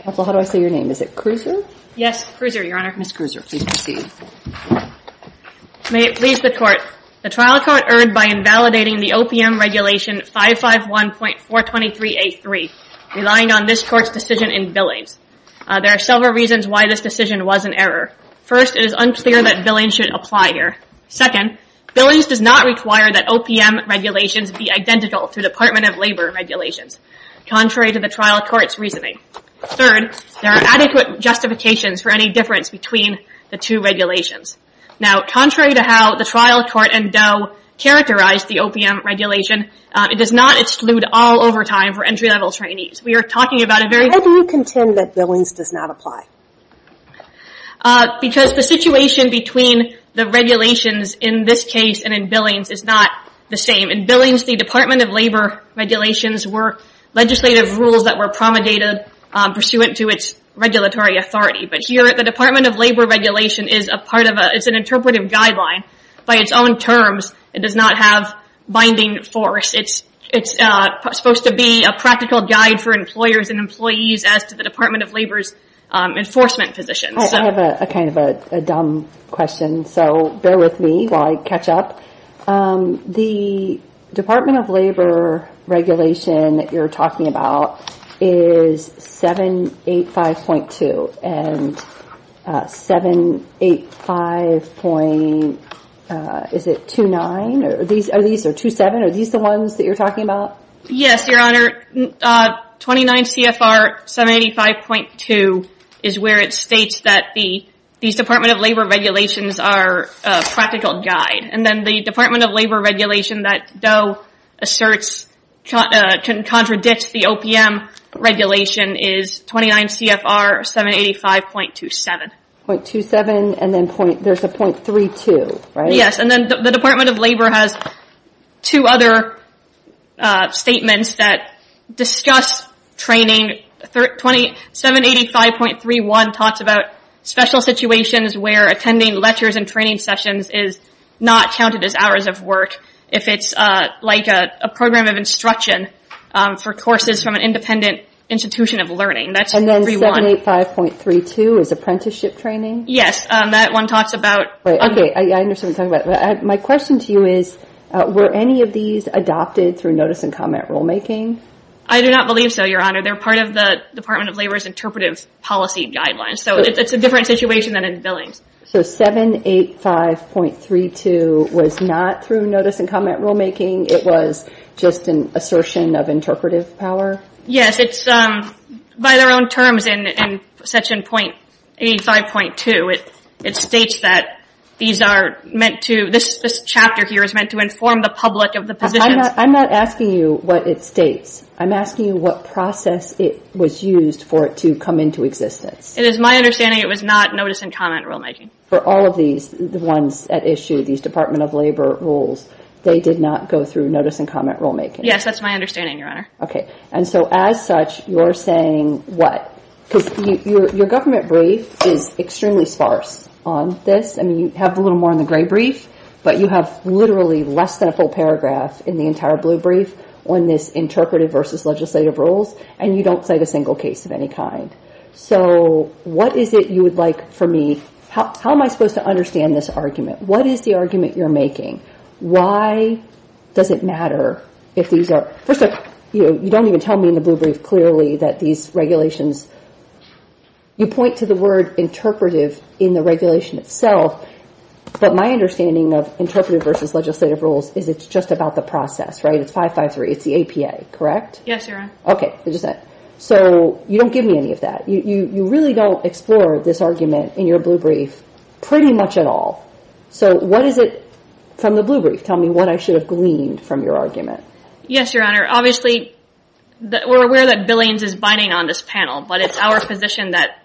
Counsel, how do I say your name? Is it Krueser? Yes, Krueser, Your Honor. Ms. Krueser, please proceed. May it please the Court, the trial court erred by invalidating the OPM Regulation 551.423A3, relying on this Court's decision in Billings. There are several reasons why this decision was an error. First, it is unclear that Billings should apply here. Second, Billings does not require that OPM regulations be identical to Department of Labor regulations, contrary to the trial court's reasoning. Third, there are adequate justifications for any difference between the two regulations. Now, contrary to how the trial court and Doe characterized the OPM regulation, it does not exclude all overtime for entry-level trainees. We are talking about a very... How do you contend that Billings does not apply? Because the situation between the regulations in this case and in Billings is not the same. In Billings, the Department of Labor regulations were legislative rules that were promulgated pursuant to its regulatory authority. But here, the Department of Labor regulation is a part of a... It's an interpretive guideline. By its own terms, it does not have binding force. It's supposed to be a practical guide for employers and employees as to the Department of Labor's enforcement position. I have a kind of a dumb question, so bear with me while I catch up. The Department of Labor regulation that you're talking about is 785.2 and 785.29. Are these the ones that you're talking about? Yes, Your Honor. 29 CFR 785.2 is where it states that these Department of Labor regulations are practical guide. And then the Department of Labor regulation that DOE asserts can contradict the OPM regulation is 29 CFR 785.27. .27 and then there's a .32, right? Yes, and then the Department of Labor has two other statements that discuss training. 785.31 talks about special situations where attending lectures and training sessions is not counted as hours of work if it's like a program of instruction for courses from an independent institution of learning. And then 785.32 is apprenticeship training? Yes, that one talks about... Okay, I understand what you're talking about. My question to you is, were any of these adopted through notice and comment rulemaking? I do not believe so, Your Honor. They're part of the Department of Labor's interpretive policy guidelines. So it's a different situation than in billings. So 785.32 was not through notice and comment rulemaking. It was just an assertion of interpretive power? Yes, it's by their own terms in section .85.2. It states that these are meant to... this chapter here is meant to inform the public of the position. I'm not asking you what it states. I'm asking you what process it was used for it to come into existence. It is my understanding it was not notice and comment rulemaking. For all of these, the ones at issue, these Department of Labor rules, they did not go through notice and comment rulemaking? Yes, that's my understanding, Your Honor. Okay, and so as such, you're saying what? Because your government brief is extremely sparse on this. I mean, you have a little more on the gray brief, but you have literally less than a full paragraph in the entire blue brief on this interpretive versus legislative rules, and you don't say the single case of any kind. So what is it you would like for me... how am I supposed to understand this argument? What is the argument you're making? Why does it matter if these are... first of all, you don't even tell me in the blue brief clearly that these regulations... you point to the word interpretive in the regulation itself, but my understanding of interpretive versus legislative rules is it's just about the process, right? It's 553. It's the APA, correct? Yes, Your Honor. Okay, so you don't give me any of that. You really don't explore this argument in your blue brief pretty much at all. So what is it from the blue brief tell me what I should have gleaned from your argument? Yes, Your Honor. Obviously we're aware that Billings is binding on this panel, but it's our position that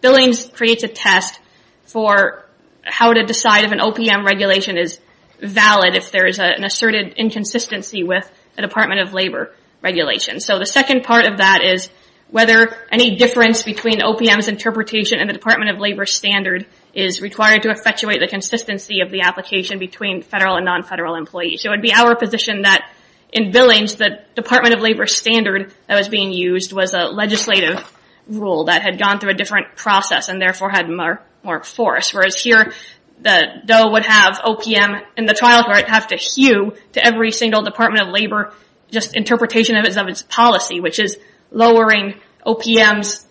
Billings creates a test for how to decide if an OPM regulation is valid if there is an asserted inconsistency with a Department of Labor regulation. So the second part of that is whether any difference between OPM's interpretation and the Department of Labor standard is required to effectuate the consistency of the application between federal and non-federal employees. So it would be our position that in Billings that Department of Labor standard that was being used was a legislative rule that had gone through a different process and therefore had more force, whereas here the DOE would have OPM in the trial court have to hew to every single Department of Labor just interpretation of its policy, which is lowering OPM's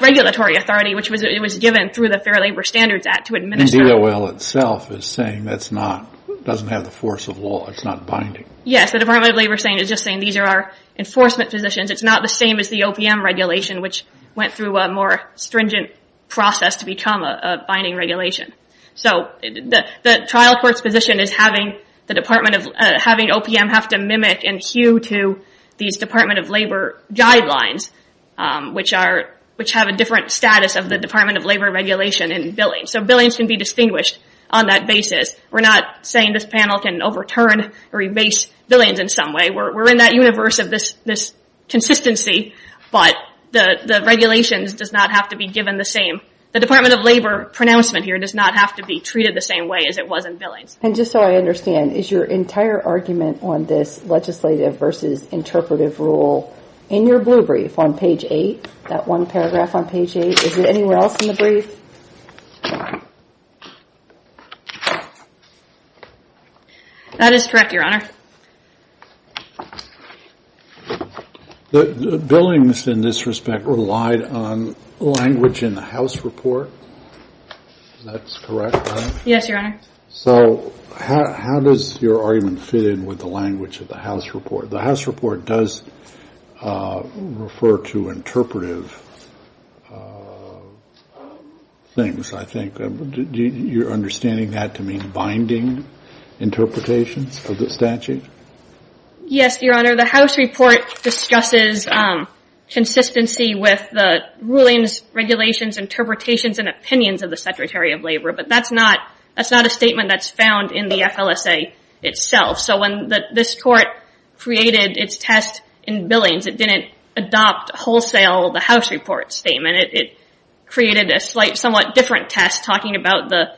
regulatory authority, which was it was given through the Fair Labor Standards Act to administer. And DOL itself is saying that's not, doesn't have the force of law, it's not binding. Yes, the Department of Labor is just saying these are our enforcement positions. It's not the same as the OPM regulation, which went through a more stringent process to become a binding regulation. So the trial court's position is having OPM have to mimic and hew to these Department of Labor guidelines, which have a different status of the Department of Labor regulation in Billings. So Billings can be distinguished on that basis. We're not saying this panel can overturn or erase Billings in some way. We're in that universe of this consistency, but the regulations does not have to be given the same. The Department of Labor pronouncement here does not have to be the same way as it was in Billings. And just so I understand, is your entire argument on this legislative versus interpretive rule in your blue brief on page 8, that one paragraph on page 8? Is it anywhere else in the brief? That is correct, Your Honor. The Billings in this respect relied on language in the House report. Is that correct? Yes, Your Honor. So how does your argument fit in with the language of the House report? The House report does refer to interpretive things, I think. Do you understand that to mean binding interpretations of the statute? Yes, Your Honor. The House report discusses consistency with the rulings, regulations, interpretations, and opinions of the Secretary of Labor, but that's not a statement that's found in the FLSA itself. So when this court created its test in Billings, it didn't adopt wholesale the House report statement. It created a somewhat different test talking about the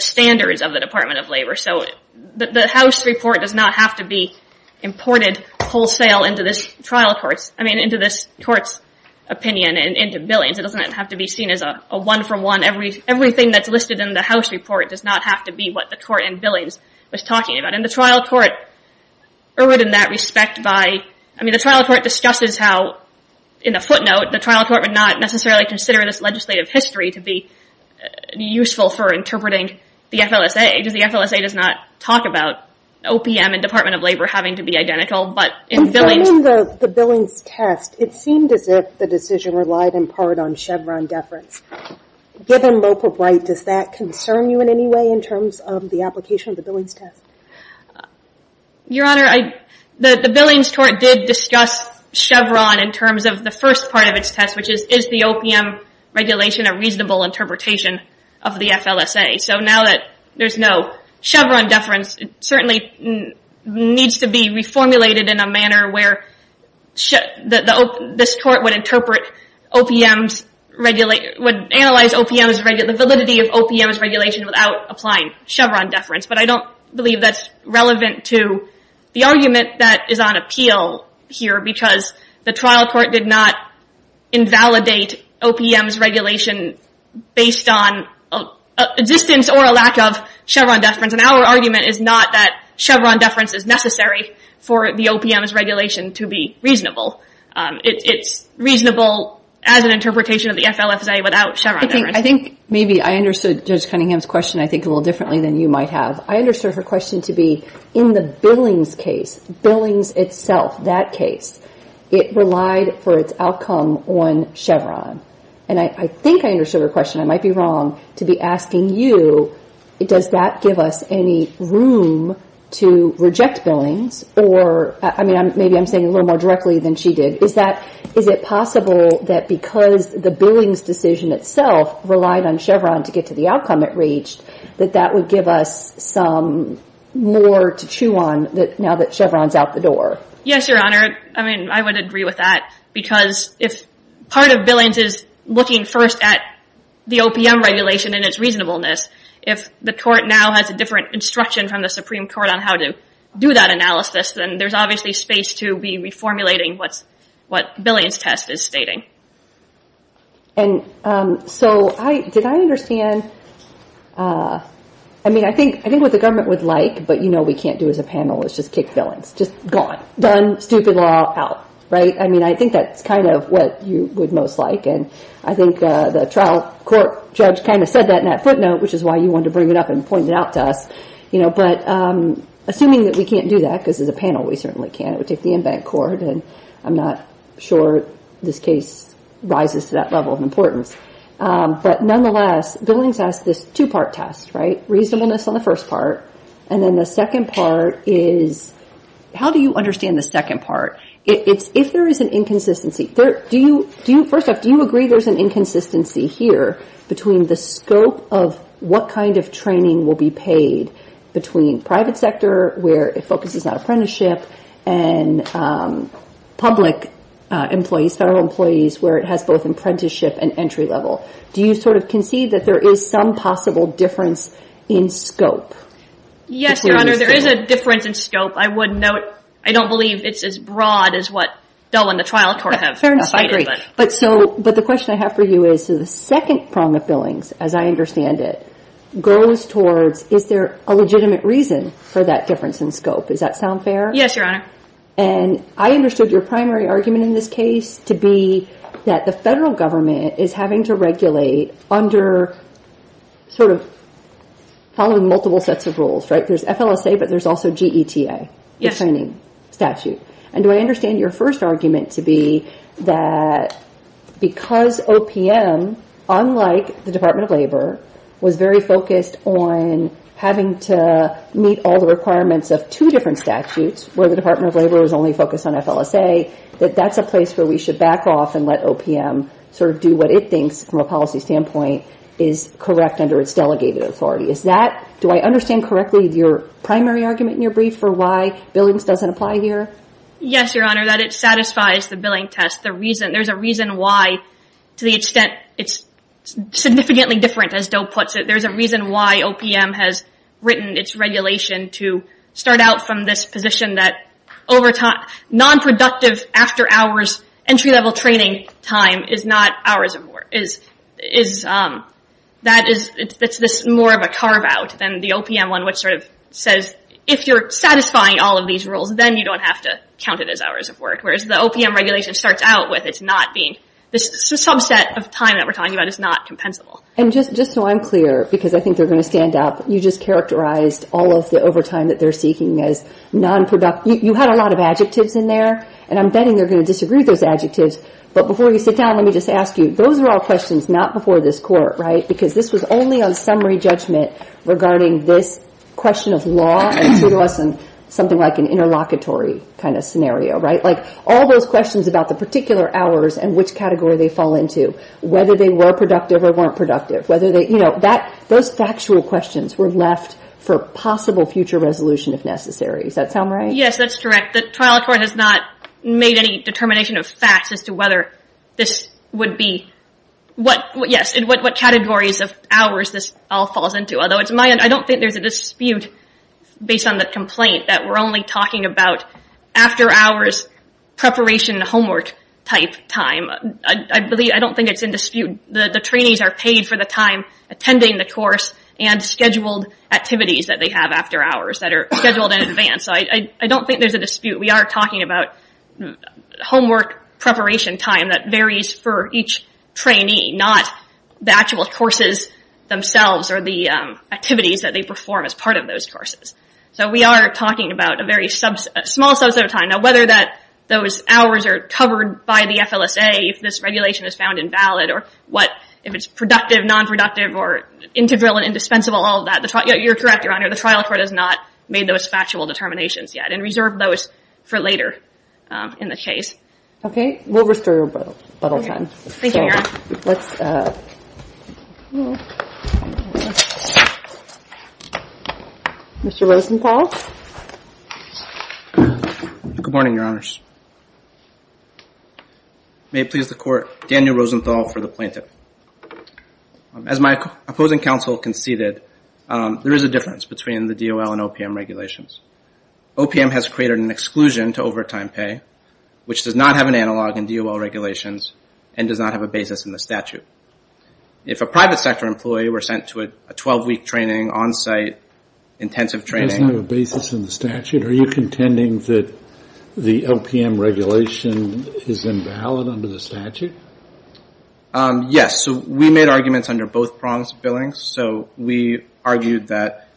standards of the Department of Labor. So the House report does not have to be imported wholesale into this trial court's opinion and into the FLSA's opinion. It doesn't have to be seen as a one-from-one. Everything that's listed in the House report does not have to be what the court in Billings was talking about. And the trial court erred in that respect by, I mean, the trial court discusses how, in the footnote, the trial court would not necessarily consider this legislative history to be useful for interpreting the FLSA, because the FLSA does not talk about OPM and Department of Labor having to be identical, but in Billings... In the Billings test, it seemed as if the decision relied in part on Chevron deference. Given local right, does that concern you in any way in terms of the application of the Billings test? Your Honor, the Billings court did discuss Chevron in terms of the first part of its test, which is, is the OPM regulation a reasonable interpretation of the FLSA? So now that there's no Chevron deference, it certainly needs to be reformulated in a way that would analyze the validity of OPM's regulation without applying Chevron deference. But I don't believe that's relevant to the argument that is on appeal here, because the trial court did not invalidate OPM's regulation based on existence or a lack of Chevron deference. And our argument is not that Chevron deference is necessary for the OPM's regulation to be reasonable. It's reasonable as an interpretation of the FLSA without Chevron deference. I think maybe I understood Judge Cunningham's question, I think, a little differently than you might have. I understood her question to be in the Billings case, Billings itself, that case, it relied for its outcome on Chevron. And I think I understood her question. I might be wrong to be asking you, does that give us any room to reject Billings? Or, I mean, maybe I'm saying a little more directly than she did. Is it possible that because the Billings decision itself relied on Chevron to get to the outcome it reached, that that would give us some more to chew on now that Chevron's out the door? Yes, Your Honor. I mean, I would agree with that, because if part of Billings is looking first at the OPM regulation and its reasonableness, if the court now has a different instruction from the Supreme Court on how to do that analysis, then there's obviously space to be formulating what Billings test is stating. And so, did I understand, I mean, I think what the government would like, but you know we can't do as a panel, is just kick Billings. Just gone. Done. Stupid law. Out. Right? I mean, I think that's kind of what you would most like, and I think the trial court judge kind of said that in that footnote, which is why you wanted to bring it up and point it out to us, you know, but assuming that we can't do that, because as a government court, and I'm not sure this case rises to that level of importance, but nonetheless, Billings asked this two-part test, right? Reasonableness on the first part, and then the second part is, how do you understand the second part? It's if there is an inconsistency. Do you, first off, do you agree there's an inconsistency here between the scope of what kind of training will be paid between private sector, where it focuses on apprenticeship, and public employees, federal employees, where it has both apprenticeship and entry level? Do you sort of concede that there is some possible difference in scope? Yes, Your Honor, there is a difference in scope. I would note, I don't believe it's as broad as what Dell and the trial court have. I agree, but so, but the question I have for you is, the second prong of Billings, as I understand it, goes towards, is there a legitimate reason for that difference in scope? Does that sound fair? Yes, Your Honor. And I understood your primary argument in this case to be that the federal government is having to regulate under sort of, following multiple sets of rules, right? There's FLSA, but there's also GETA, the training statute, and do I understand correctly that OPM, unlike the Department of Labor, was very focused on having to meet all the requirements of two different statutes, where the Department of Labor was only focused on FLSA, that that's a place where we should back off and let OPM sort of do what it thinks, from a policy standpoint, is correct under its delegated authority? Is that, do I understand correctly your primary argument in your brief for why Billings doesn't apply here? Yes, Your Honor, that it satisfies the Billing test. The reason, there's a reason why, to the extent it's significantly different, as Doe puts it, there's a reason why OPM has written its regulation to start out from this position that over time, non- productive, after-hours, entry-level training time is not hours of work, is, is that is, it's this more of a carve-out than the OPM one, which sort of says, if you're satisfying all of these rules, then you don't have to count it as hours of work, whereas the OPM regulation starts out with it's not being, this subset of time that we're talking about is not compensable. And just, just so I'm clear, because I think they're going to stand up, you just characterized all of the overtime that they're seeking as non-productive. You had a lot of adjectives in there, and I'm betting they're going to disagree with those adjectives, but before you sit down, let me just ask you, those are all questions not before this Court, right? Because this was only on summary judgment regarding this question of law, and it threw to us something like an interlocutory kind of scenario, right? Like, all those questions about the particular hours and which category they fall into, whether they were productive or weren't productive, whether they, you know, that, those factual questions were left for possible future resolution if necessary. Does that sound right? Yes, that's correct. The trial court has not made any determination of facts as to whether this would be, what, yes, and what categories of hours this all falls into, although it's my, I don't think there's a dispute based on the complaint that we're only talking about after hours preparation homework type time. I believe, I don't think it's in dispute. The trainees are paid for the time attending the course and scheduled activities that they have after hours that are scheduled in advance, so I don't think there's a dispute. We are talking about homework preparation time that varies for each trainee, not the actual courses themselves or the activities that they perform as part of those courses. So we are talking about a very small subset of time. Now whether that those hours are covered by the FLSA, if this regulation is found invalid, or what, if it's productive, non-productive, or integral and indispensable, all of that, you're correct, Your Honor, the trial court has not made those factual determinations yet and reserved those for later in the case. Okay, we'll restore a little time. Thank you, Your Honor. Mr. Rosenthal. Good morning, Your Honors. May it please the court, Daniel Rosenthal for the plaintiff. As my opposing counsel conceded, there is a difference between the DOL and OPM regulations. OPM has created an exclusion to overtime pay, which does not have an analog in DOL regulations and does not have a basis in the statute. If a private sector employee were sent to a 12-week training on-site intensive training... It doesn't have a basis in the statute? Are you contending that the OPM regulation is invalid under the statute? Yes, so we made arguments under both prongs of billing. So we argued that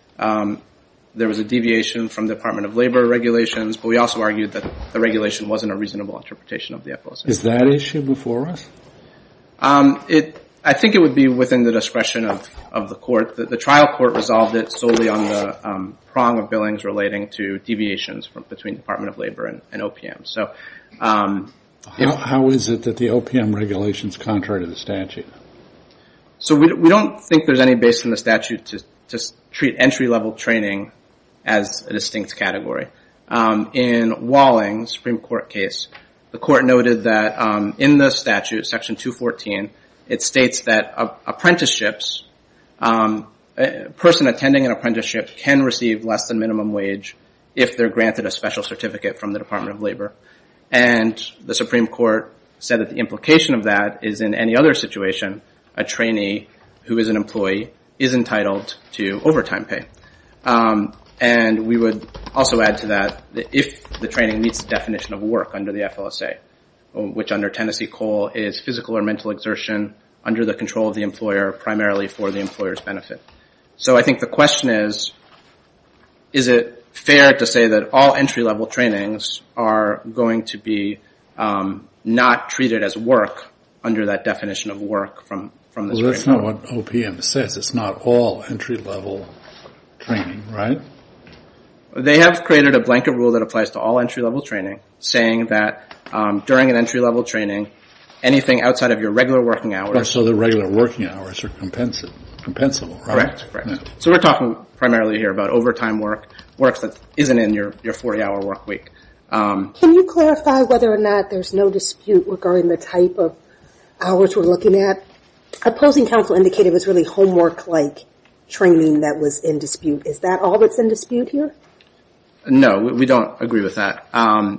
there was a deviation from the Department of Labor regulations, but we also argued that the regulation wasn't a reasonable interpretation of the opposition. Is that issue before us? I think it would be within the discretion of the court. The trial court resolved it solely on the prong of billings relating to deviations from between Department of Labor and OPM. So how is it that the OPM regulation is contrary to the statute? So we don't think there's any basis in the statute to treat entry-level training as a distinct category. In Walling, Supreme Court case, the court noted that in the statute, section 214, it states that apprenticeships... a person attending an apprenticeship can receive less than minimum wage if they're granted a special certificate from the Department of Labor. And the Supreme Court said that the implication of that is in any other situation, a trainee who is an employee is entitled to overtime pay. And we would also add to that, if the training meets the definition of work under the FLSA, which under Tennessee COLE is physical or mental exertion under the control of the employer, primarily for the employer's benefit. So I think the question is, is it fair to say that all entry-level trainings are going to be not treated as work under that definition of work from the Supreme Court? I don't know what OPM says. It's not all entry-level training, right? They have created a blanket rule that applies to all entry-level training, saying that during an entry-level training, anything outside of your regular working hours... So the regular working hours are compensable, right? Correct. So we're talking primarily here about overtime work, works that isn't in your 40-hour work week. Can you clarify whether or not there's no dispute regarding the type of hours we're looking at? Opposing counsel indicated it was really homework-like training that was in dispute. Is that all that's in dispute here? No, we don't agree with that.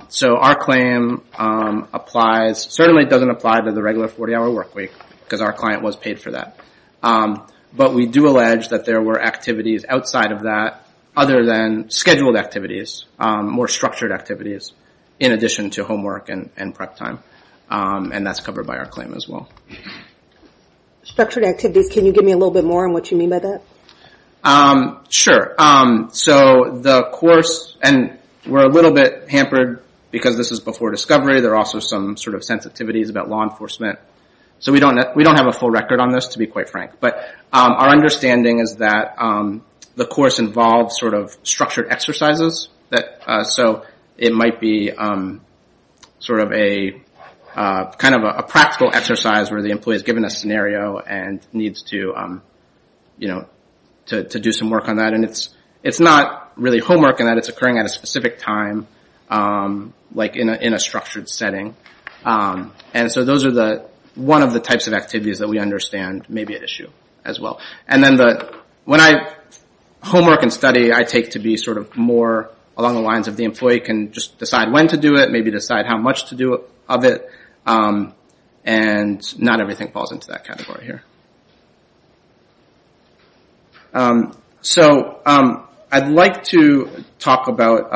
So our claim applies... certainly doesn't apply to the regular 40-hour work week, because our client was paid for that. But we do allege that there were activities outside of that, other than scheduled activities, more structured activities, in addition to homework and prep time. And that's covered by our claim as well. Structured activities. Can you give me a little bit more on what you mean by that? Sure. So the course... and we're a little bit hampered, because this is before discovery. There are also some sort of sensitivities about law enforcement. So we don't have a full record on this, to be quite frank. But our understanding is that the course involves sort of structured exercises. So it might be sort of a kind of a practical exercise, where the employee is given a scenario and needs to do some work on that. And it's not really homework in that it's occurring at a specific time, like in a structured setting. And so those are one of the types of activities that we understand may be an issue as well. And then the... when I... homework and study I take to be sort of more along the lines of the employee can just decide when to do it, maybe decide how much to do of it. And not everything falls into that category here. So I'd like to talk about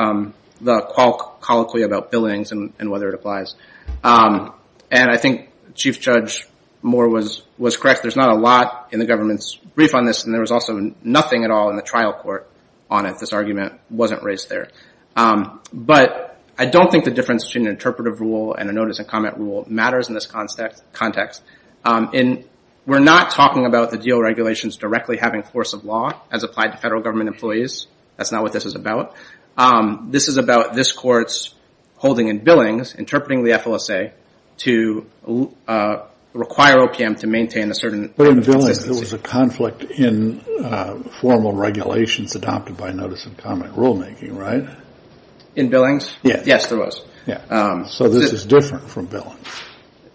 the colloquy about billings and whether it applies. And I think Chief Judge Moore was correct. There's not a lot in the government's brief on this. And there was also nothing at all in the trial court on it. This argument wasn't raised there. But I don't think the difference between an interpretive rule and a notice and comment rule matters in this context. And we're not talking about the DO regulations directly having force of law, as applied to federal government employees. That's not what this is about. This is about this court's holding in billings, interpreting the FLSA to require OPM to maintain a certain... But in billings there was a conflict in formal regulations adopted by notice and comment rulemaking, right? In billings? Yes, there was. So this is different from billings.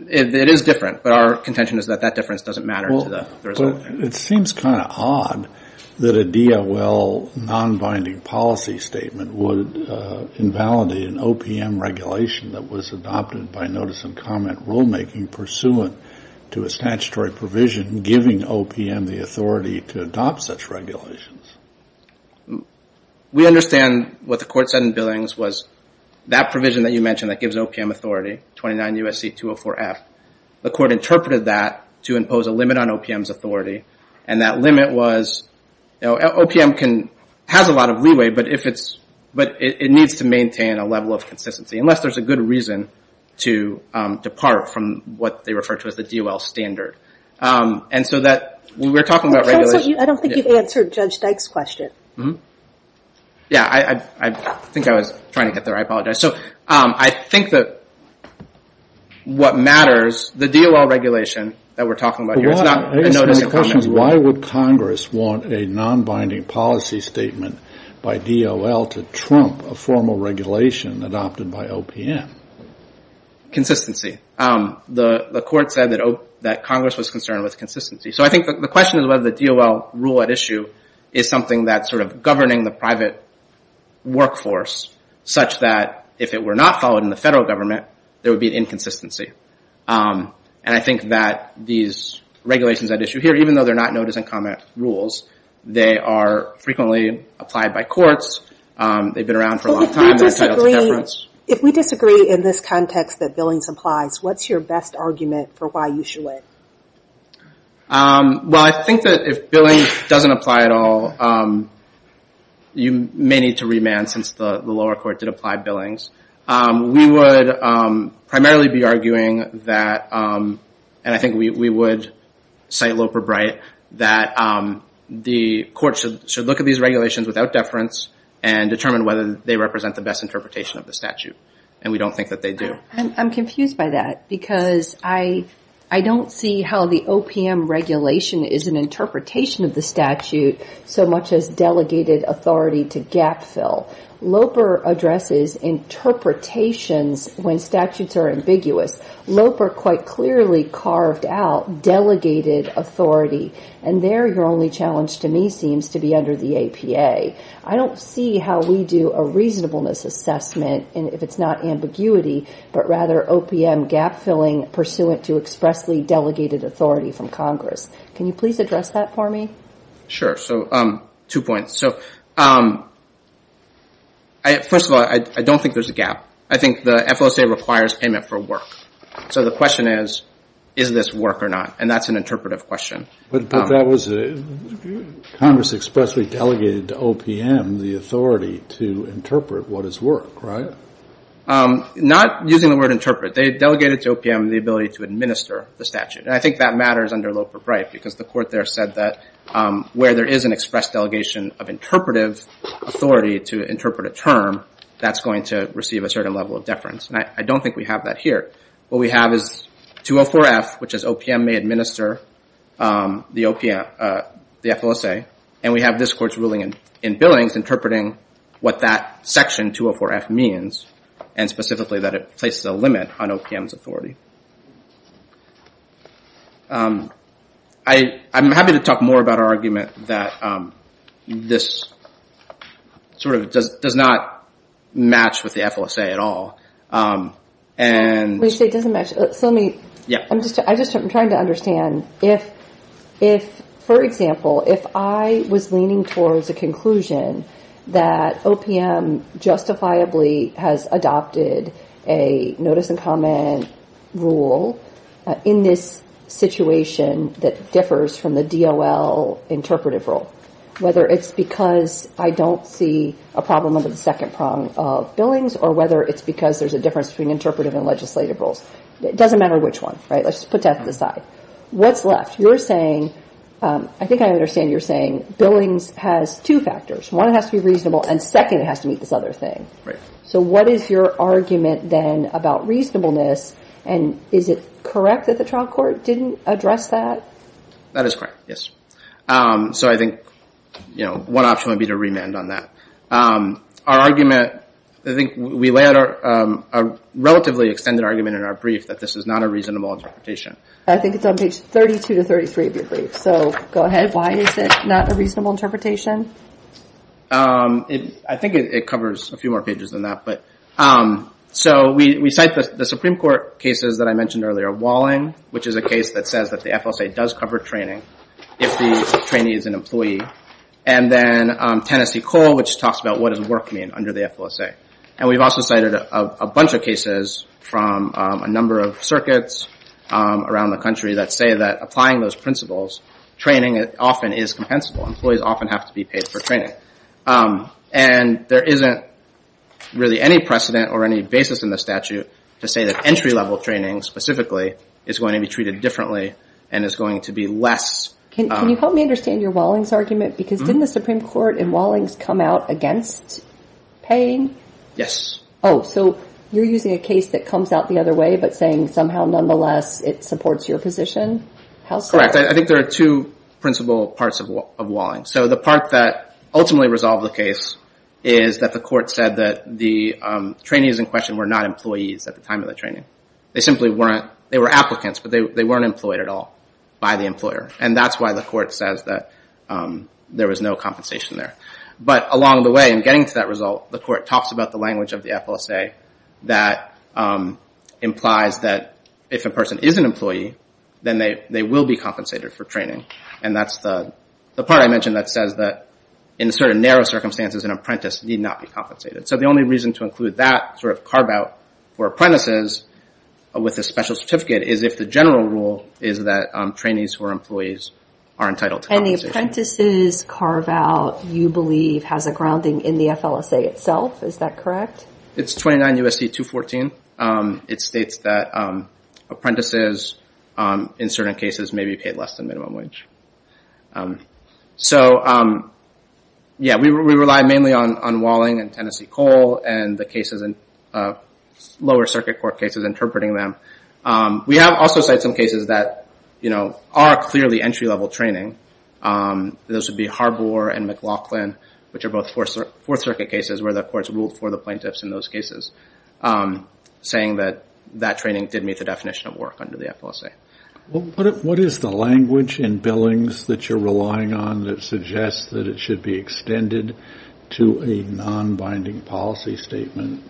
It is different, but our contention is that that difference doesn't matter to the result. It seems kind of odd that a DOL non-binding policy statement would invalidate an OPM regulation that was adopted by notice and comment rulemaking pursuant to a statutory provision giving OPM the authority to adopt such regulations. We understand what the court said in billings was that provision that you mentioned that gives OPM authority, 29 U.S.C. 204-F. The court interpreted that to impose a limit on OPM's authority. And that limit was, OPM has a lot of leeway, but it needs to maintain a level of consistency. Unless there's a good reason to depart from what they refer to as the DOL standard. I don't think you've answered Judge Dyke's question. Yeah, I think I was trying to get there. I apologize. So I think that what matters, the DOL regulation that we're talking about here, it's not a notice and comment rule. Why would Congress want a non-binding policy statement by DOL to trump a formal regulation adopted by OPM? Consistency. The court said that Congress was concerned with consistency. So I think the question is whether the DOL rule at issue is something that's sort of governing the private workforce such that if it were not followed in the federal government, there would be an issue of consistency. And I think that these regulations at issue here, even though they're not notice and comment rules, they are frequently applied by courts. They've been around for a long time. If we disagree in this context that billings applies, what's your best argument for why you should wait? Well, I think that if billing doesn't apply at all, you may need to remand since the lower court did apply billings. We would primarily be arguing that, and I think we would cite Loper-Bright, that the court should look at these regulations without deference and determine whether they represent the best interpretation of the statute. And we don't think that they do. I'm confused by that because I don't see how the OPM regulation is an interpretation of the statute so much as delegated authority to gap fill. Loper addresses interpretations when statutes are ambiguous. Loper quite clearly carved out delegated authority, and there your only challenge to me seems to be under the APA. I don't see how we do a reasonableness assessment, and if it's not ambiguity, but rather OPM gap filling pursuant to expressly delegated authority from Congress. Can you please address that for me? Sure. So, two points. So, first of all, I don't think there's a gap. I think the FLSA requires payment for work. So the question is, is this work or not? And that's an interpretive question. But that was Congress expressly delegated to OPM the authority to interpret what is work, right? Not using the word interpret. They delegated to OPM the ability to administer the statute, and I think that matters under Loper, right? Because the court there said that where there is an express delegation of interpretive authority to interpret a term, that's going to receive a certain level of deference. I don't think we have that here. What we have is 204F, which is OPM may administer the OPM, the FLSA, and we have this court's ruling in Billings interpreting what that section 204F means, and specifically that it places a limit on OPM's authority. I'm happy to talk more about our argument that this sort of does not match with the FLSA at all. I'm trying to understand if, for example, if I was leaning towards a conclusion that OPM justifiably has adopted a notice and comment rule in this situation that differs from the DOL interpretive rule, whether it's because I don't see a problem under the second prong of Billings, or whether it's because there's a difference between interpretive and legislative rules. It doesn't matter which one, right? Let's put that to the side. What's left? You're saying, I think I understand you're saying Billings has two factors. One has to be reasonable, and second, it has to meet this other thing. Right. So what is your argument then about reasonableness, and is it correct that the trial court didn't address that? That is correct, yes. So I think, you know, one option would be to remand on that. Our argument, I think we lay out a relatively extended argument in our brief that this is not a reasonable interpretation. I think it's on page 32 to 33 of your brief, so go ahead. Why is it not a reasonable interpretation? I think it covers a few more pages than that, but so we cite the Supreme Court cases that I mentioned earlier. Walling, which is a case that says that the FLSA does cover training if the trainee is an employee. And then Tennessee Cole, which talks about what does work mean under the FLSA. And we've also cited a bunch of cases from a number of circuits around the country that say that applying those principles, training, it often is compensable. Employees often have to be paid for training. And there isn't really any precedent or any basis in the statute to say that entry-level training, specifically, is going to be treated differently and is going to be less. Can you help me understand your Walling's argument? Because didn't the Supreme Court in Walling's come out against paying? Yes. Oh, so you're using a case that comes out the other way, but saying somehow, nonetheless, it supports your position? Correct. I think there are two principal parts of Walling. So the part that ultimately resolved the case is that the court said that the trainees in question were not employees at the time of the training. They simply weren't. They were applicants, but they weren't employed at all by the employer. And that's why the court says that there was no compensation there. But along the way, in getting to that result, the court talks about the language of the FLSA that implies that if a person is an employee, then they will be compensated for training. And that's the part I mentioned that says that in certain narrow circumstances, an apprentice need not be compensated. So the only reason to include that sort of carve-out for apprentices with a special certificate is if the general rule is that trainees who are employees are entitled to compensation. And the apprentices carve-out, you believe, has a FLSA itself. Is that correct? It's 29 U.S.C. 214. It states that apprentices, in certain cases, may be paid less than minimum wage. So, yeah, we rely mainly on Walling and Tennessee Coal and the cases, lower circuit court cases, interpreting them. We have also cited some cases that, you know, are clearly entry-level training. Those would be Harbour and McLaughlin, which are both fourth circuit cases where the courts ruled for the plaintiffs in those cases, saying that that training did meet the definition of work under the FLSA. What is the language in billings that you're relying on that suggests that it should be extended to a non-binding policy statement?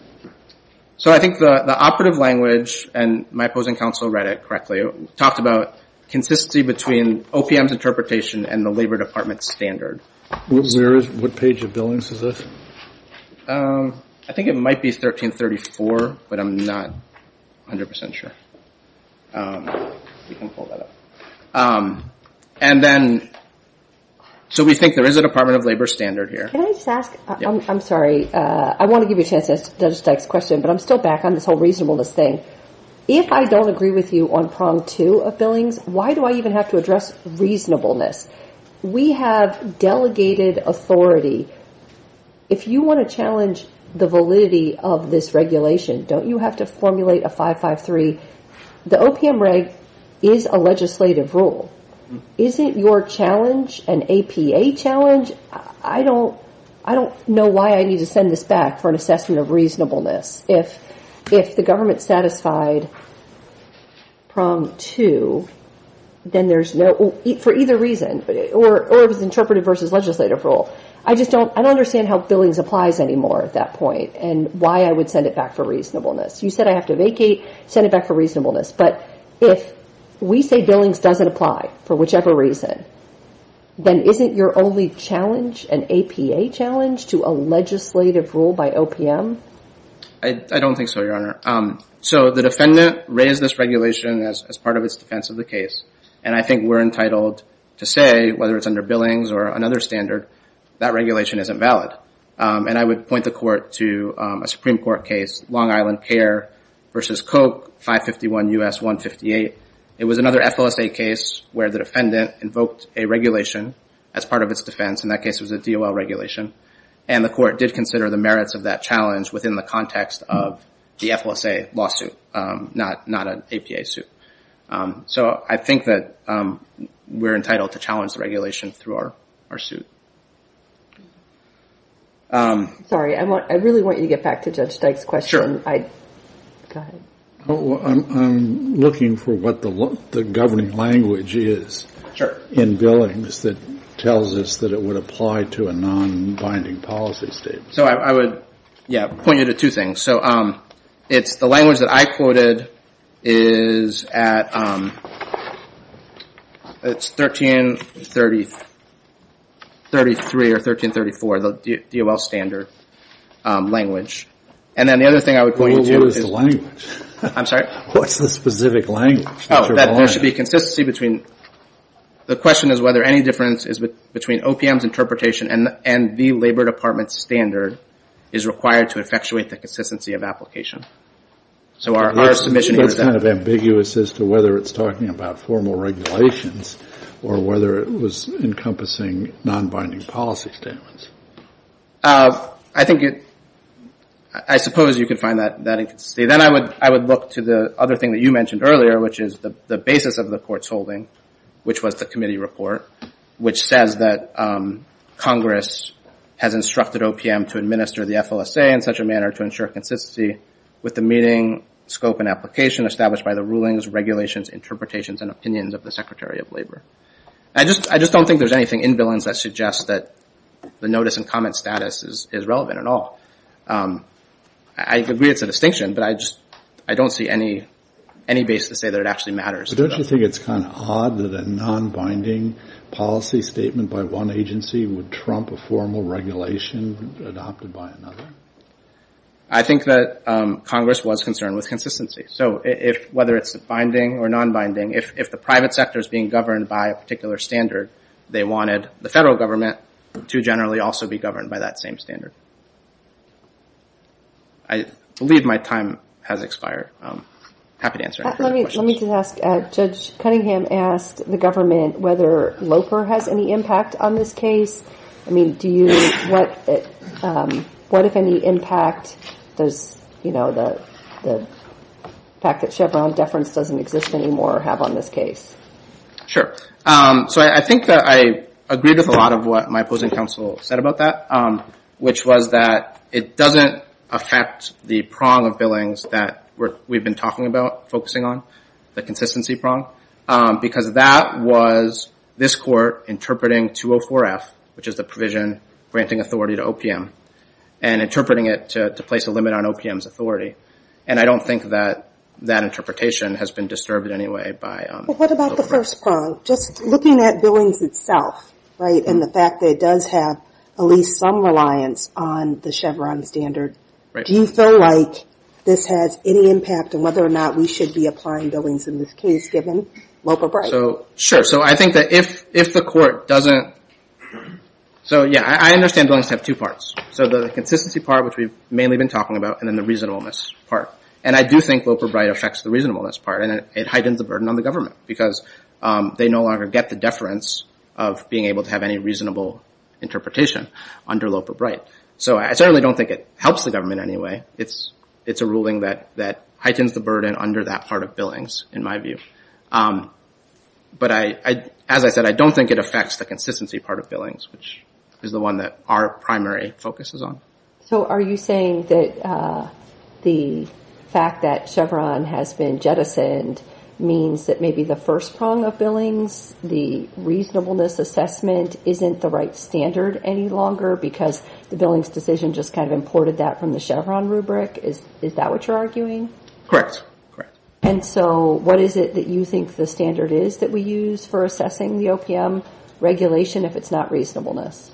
So I think the operative language, and my opposing counsel read it correctly, talked about consistency between OPM's interpretation and the Labor Department's standard. What page of billings is this? I think it might be 1334, but I'm not 100% sure. And then, so we think there is a Department of Labor standard here. Can I just ask, I'm sorry, I want to give you a chance to ask Judge Dyke's question, but I'm still back on this whole reasonableness thing. If I don't agree with you on prong two of billings, why do I even have to address reasonableness? We have delegated authority. If you want to challenge the validity of this regulation, don't you have to formulate a 553? The OPM reg is a legislative rule. Isn't your challenge an APA challenge? I don't know why I need to send this back for an assessment of reasonableness. If the government satisfied prong two, then there's no, for either reason, or if it's interpreted versus legislative rule, I just don't, I don't understand how billings applies anymore at that point, and why I would send it back for reasonableness. You said I have to vacate, send it back for reasonableness. But if we say billings doesn't apply for whichever reason, then isn't your only challenge an APA challenge to a legislative rule by OPM? I don't think so, Your Honor. So the defendant raised this regulation as part of its defense of the case, and I think we're entitled to say, whether it's under billings or another standard, that regulation isn't valid. And I would point the court to a Supreme Court case, Long Island Care versus Coke, 551 U.S. 158. It was another FLSA case where the defendant invoked a regulation as part of its defense, and that case was a DOL regulation. And the court did consider the merits of that challenge within the context of the FLSA lawsuit, not an APA suit. So I think that we're entitled to challenge the regulation through our suit. Sorry, I really want you to get back to Judge Dyke's question. I'm looking for what the governing language is in billings that tells us that it would apply to a non-binding policy statement. So I would point you to two things. So it's the language that I quoted is at it's 1333 or 1334, the DOL standard language. And then the other thing I would point you to is... What is the language? I'm sorry? What's the specific language? Oh, there should be consistency between... The question is whether any difference is between OPM's interpretation and the Labor Department's standard is required to effectuate the consistency of application. So our submission here is that... It's kind of ambiguous as to whether it's talking about formal regulations or whether it was encompassing non-binding policy statements. I suppose you could find that inconsistency. Then I would look to the other thing that you mentioned earlier, which is the basis of the court's holding, which was the committee report, which says that Congress has instructed OPM to administer the FLSA in such a manner to ensure consistency with the meeting, scope, and application established by the rulings, regulations, interpretations, and opinions of the Secretary of Labor. I just don't think there's anything in billings that suggests that the notice and comment status is relevant at all. I agree it's a distinction, but I don't see any basis to say that it actually matters. But don't you think it's kind of odd that a non-binding policy statement by one agency would trump a formal regulation adopted by another? I think that Congress was concerned with consistency. So whether it's binding or non-binding, if the private sector is being governed by a particular standard, they wanted the federal government to generally also be governed by that same standard. I believe my time has expired. I'm happy to answer any further questions. Let me just ask, Judge Cunningham asked the government whether LOPR has any impact on this case. I mean, do you, what if any impact does, you know, the fact that Chevron deference doesn't exist anymore have on this case? Sure. So I think that I agree with a lot of what my opposing counsel said about that, which was that it doesn't affect the prong of billings that we've been talking about focusing on, the consistency prong, because that was this Court interpreting 204F, which is the provision granting authority to OPM, and interpreting it to place a limit on OPM's authority. And I don't think that that interpretation has been disturbed in any way by LOPR. What about the first prong? Just looking at billings itself, right, and the fact that it does have at least some reliance on the Chevron standard, do you feel like this has any impact on whether or not we should be applying billings in this case, given LOPR? So, sure. So I think that if the Court doesn't, so yeah, I understand billings have two parts. So the consistency part, which we've mainly been talking about, and then the reasonableness part. And I do think LOPR-BRITE affects the reasonableness part, and it heightens the burden on the government, because they no longer get the deference of being able to have any reasonable interpretation under LOPR-BRITE. So I certainly don't think it helps the government in any way. It's a ruling that heightens the burden under that part of billings, in my view. But as I said, I don't think it affects the consistency part of billings, which is the one that our primary focus is on. So are you saying that the fact that Chevron has been jettisoned means that maybe the first prong of billings, the reasonableness assessment, isn't the right standard any longer because the billings decision just kind of imported that from the Chevron rubric? Is that what you're arguing? Correct. And so what is it that you think the standard is that we use for assessing the OPM regulation if it's not reasonableness?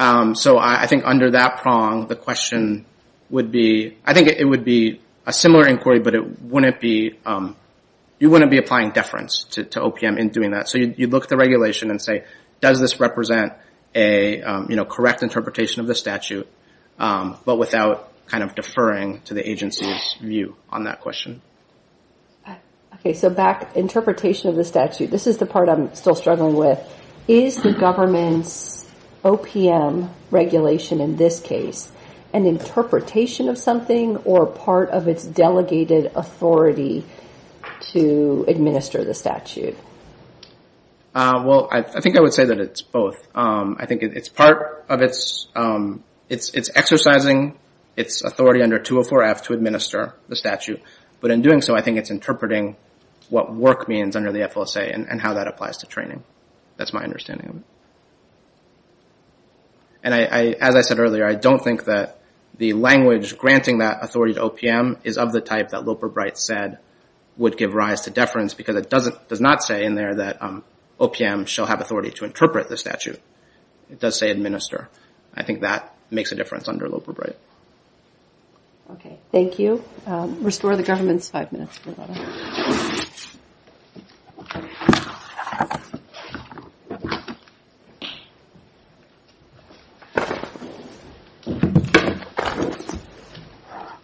So I think under that prong, the question would be, I think it would be a similar inquiry, but it wouldn't be, you wouldn't be applying deference to OPM in doing that. So you'd look at the regulation and say, does this represent a correct interpretation of the statute, but without kind of deferring to the agency's view on that question. Okay, so back, interpretation of the statute. This is the part I'm still struggling with. Is the government's OPM regulation in this case an interpretation of something or part of its delegated authority to administer the statute? Well, I think I would say that it's both. I think it's part of its, it's exercising its authority under 204F to administer the statute, but in doing so, I think it's interpreting what work means under the FLSA and how that applies to training. That's my understanding of it. And as I said earlier, I don't think that the language granting that authority to OPM is of the type that Loper-Bright said would give rise to deference because it does not say in there that OPM shall have authority to interpret the statute. It does say administer. I think that makes a difference under Loper-Bright. Okay, thank you. Restore the government's five minutes, please.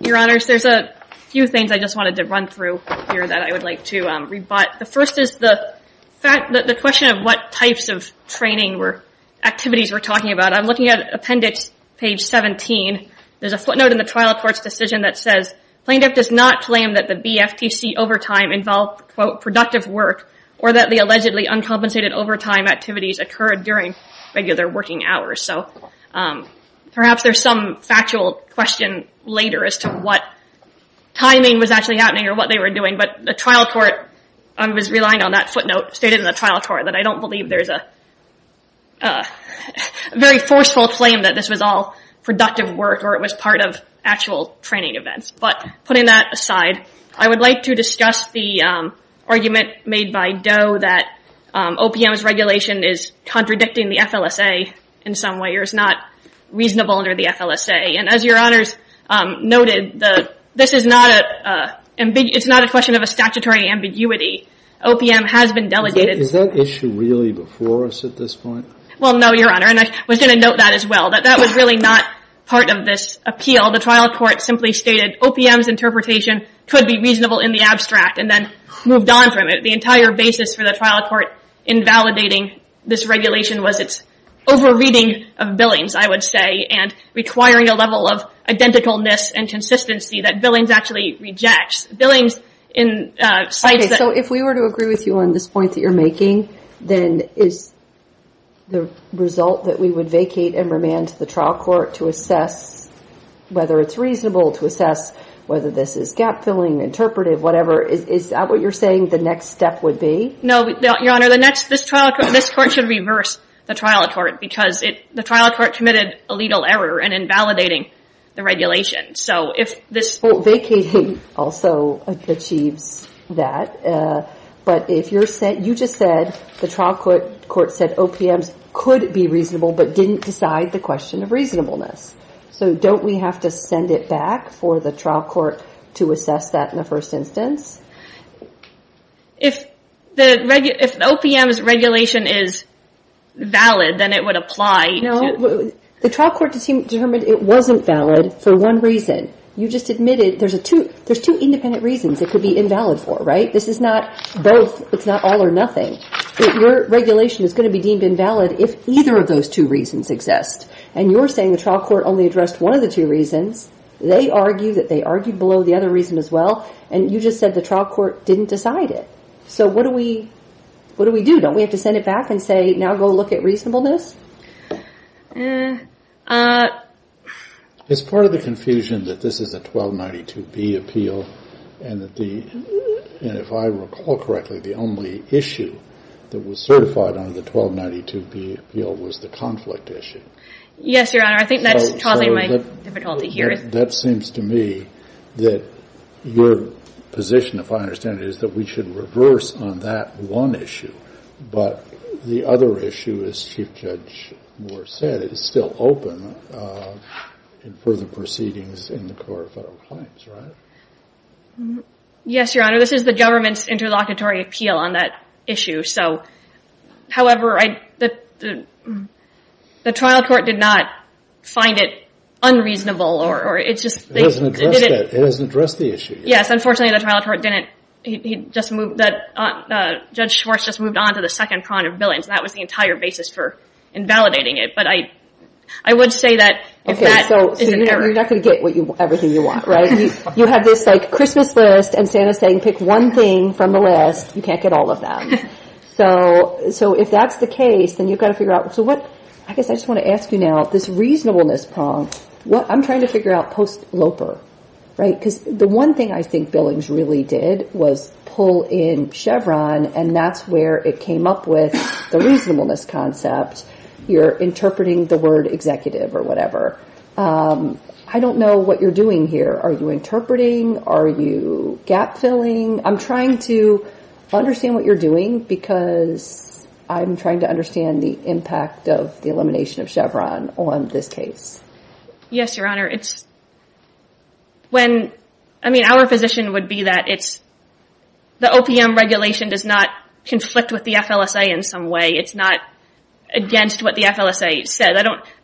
Your Honors, there's a few things I just wanted to run through here that I would like to rebut. The first is the question of what types of training or activities we're talking about. I'm looking at appendix page 17. There's a footnote in the trial court's decision that says plaintiff does not claim that the BFTC overtime involved, quote, productive work or that the allegedly uncompensated overtime activities occurred during regular working hours. So perhaps there's some factual question later as to what timing was actually happening or what they were doing, but the trial court was relying on that footnote stated in the trial court that I don't believe there's a very forceful claim that this was all productive work or it was part of actual training events. But putting that aside, I would like to discuss the argument made by Doe that OPM's regulation is contradicting the FLSA in some way or is not reasonable under the FLSA. And as your Honors noted, this is not a question of a statutory ambiguity. OPM has been delegated. Is that issue really before us at this point? Well, no, Your Honor. And I was going to note that as well, that that was really not part of this appeal. The trial court simply stated OPM's interpretation could be reasonable in the abstract and then moved on from it. The entire basis for the trial court invalidating this regulation was its over-reading of billings, I would say, and requiring a level of identicalness and consistency that billings actually rejects. Billings in sites that... Okay, so if we were to agree with you on this point that you're making, then is the result that we would vacate and remand the trial court to assess whether it's reasonable to assess whether this is gap-filling, interpretive, whatever, is that what you're saying the next step would be? No, Your Honor. This court should reverse the trial court because the trial court committed a legal error in invalidating the regulation. So if this... Well, vacating also achieves that. But you just said the trial court said OPM's could be reasonable but didn't decide the question of reasonableness. So don't we have to send it back for the trial court to assess that in the first instance? If the OPM's regulation is valid, then it would apply to... No, the trial court determined it wasn't valid for one reason. You just admitted there's two independent reasons it could be invalid for, right? This is not both. It's not all or nothing. Your regulation is going to be deemed invalid if either of those two reasons exist. And you're saying the trial court only addressed one of the two reasons. They argued that they argued below the other reason as well. And you just said the trial court didn't decide it. So what do we do? Don't we have to send it back and say, now go look at reasonableness? It's part of the confusion that this is a 1292B appeal. And if I recall correctly, the only issue that was certified under the 1292B appeal was the conflict issue. Yes, Your Honor. I think that's causing my difficulty here. That seems to me that your position, if I understand it, is that we should reverse on that one issue. But the other issue, as Chief Judge Moore said, is still open for the proceedings in the Court of Federal Claims, right? Yes, Your Honor. This is the government's interlocutory appeal on that issue. However, the trial court did not find it unreasonable. It doesn't address the issue. Yes, unfortunately the trial court didn't. Judge Schwartz just moved on to the second prong of billions. That was the entire basis for invalidating it. You're not going to get everything you want, right? You have this Christmas list and Santa's saying pick one thing from the list. You can't get all of them. So if that's the case, then you've got to figure out. I guess I just want to ask you now, this reasonableness prong, I'm trying to figure out post-Loper. Right? Because the one thing I think Billings really did was pull in Chevron and that's where it came up with the reasonableness concept. You're interpreting the word executive or whatever. I don't know what you're doing here. Are you interpreting? Are you gap filling? I'm trying to understand what you're doing because I'm trying to understand the impact of the elimination of Chevron on this case. Yes, Your Honor. I mean our position would be that the OPM regulation does not conflict with the FLSA in some way. It's not against what the FLSA said.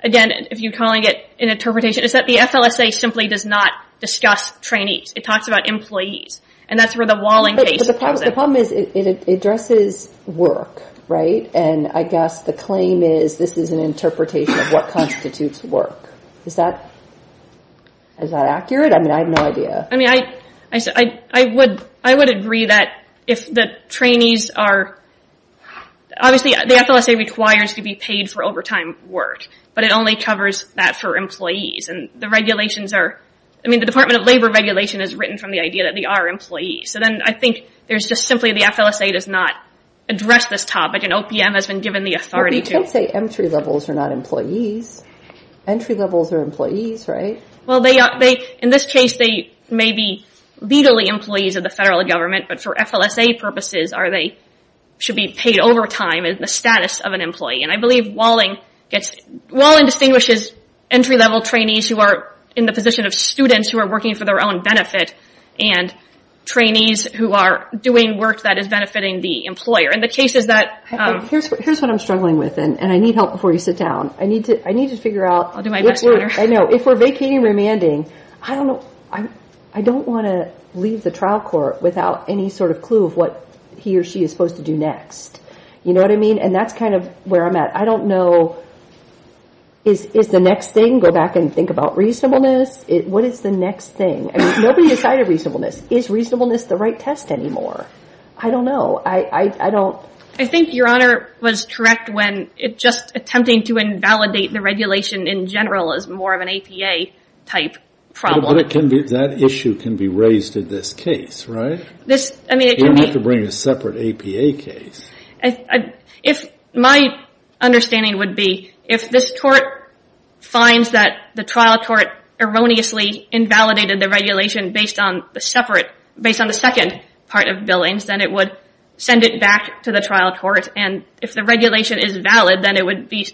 Again, if you're calling it an interpretation, it's that the FLSA simply does not discuss trainees. It talks about employees and that's where the Walling case comes in. The problem is it addresses work, right? And I guess the claim is this is an interpretation of what constitutes work. Is that accurate? I have no idea. I would agree that if the trainees are, obviously the FLSA requires to be paid for overtime work, but it only covers that for employees. And the regulations are, I mean the Department of Labor regulation is written from the idea that they are employees. So then I think there's just simply the FLSA does not address this topic and OPM has been given the authority to. But you can't say entry levels are not employees. Entry levels are employees, right? Well, in this case they may be legally employees of the federal government, but for FLSA purposes they should be paid overtime in the status of an employee. And I believe Walling gets, Walling distinguishes entry level trainees who are in the position of students who are working for their own benefit and trainees who are doing work that is benefiting the employer. In the cases that... Here's what I'm struggling with and I need help before you sit down. I need to figure out... I'll do my best later. I know. If we're vacating remanding, I don't want to leave the trial court without any sort of clue of what he or she is supposed to do next. You know what I mean? And that's kind of where I'm at. I don't know... Is the next thing, go back and think about reasonableness? What is the next thing? Nobody decided reasonableness. Is reasonableness the right test anymore? I don't know. I don't... I think Your Honor was correct when just attempting to invalidate the regulation in general is more of an APA type problem. But that issue can be raised in this case, right? You don't have to bring a separate APA case. If my understanding would be, if this court finds that the trial court erroneously invalidated the regulation based on the second part of Billings, then it would send it back to the trial court. And if the regulation is valid, then it would be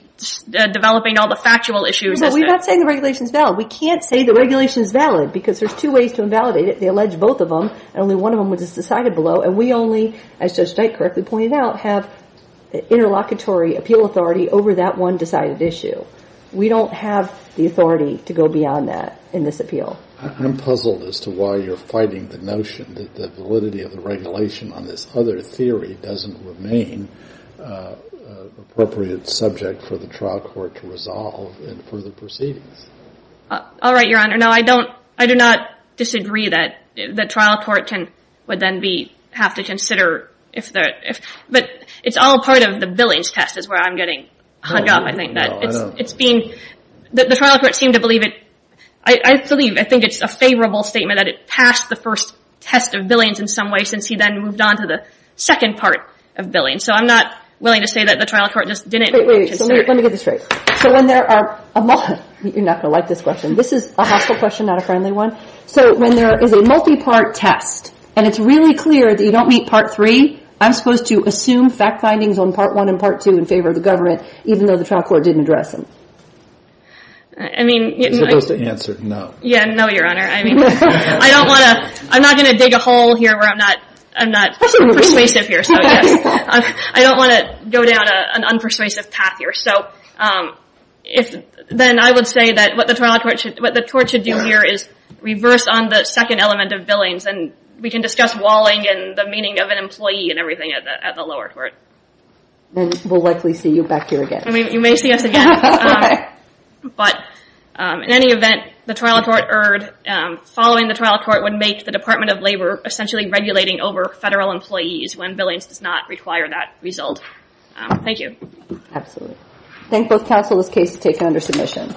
developing all the factual issues... We're not saying the regulation is valid. We can't say the regulation is valid because there's two ways to invalidate it. They allege both of them, and only one of them was decided below. And we only, as Judge Knight correctly pointed out, have interlocutory appeal authority over that one decided issue. We don't have the authority to go beyond that in this appeal. I'm puzzled as to why you're fighting the notion that the validity of the regulation on this other theory doesn't remain appropriate subject for the trial court to resolve in further proceedings. All right, Your Honor. No, I do not disagree that the trial court would then have to consider if the... But it's all part of the Billings test is where I'm getting hung up. I think that it's being... The trial court seemed to believe it... I believe, I think it's a favorable statement that it passed the first test of Billings in some way since he then moved on to the second part of Billings. So I'm not willing to say that the trial court just didn't... Wait, wait, wait. Let me get this straight. So when there are... You're not going to like this question. This is a hospital question, not a friendly one. So when there is a multi-part test, and it's really clear that you don't meet part three, I'm supposed to assume fact findings on part one and part two in favor of the government, even though the trial court didn't address them? I mean... You're supposed to answer no. Yeah, no, Your Honor. I mean, I don't want to... I'm not going to dig a hole here where I'm not persuasive here. I don't want to go down an unpersuasive path here. So if... Then I would say that what the trial court should... What the court should do here is reverse on the second element of Billings, and we can discuss walling and the meaning of an employee and everything at the lower court. Then we'll likely see you back here again. I mean, you may see us again. But in any event, the trial court erred. Following the trial court would make the Department of Labor essentially regulating over federal employees when Billings does not require that result. Thank you. Absolutely. Thank both counsel. This case is taken under submission.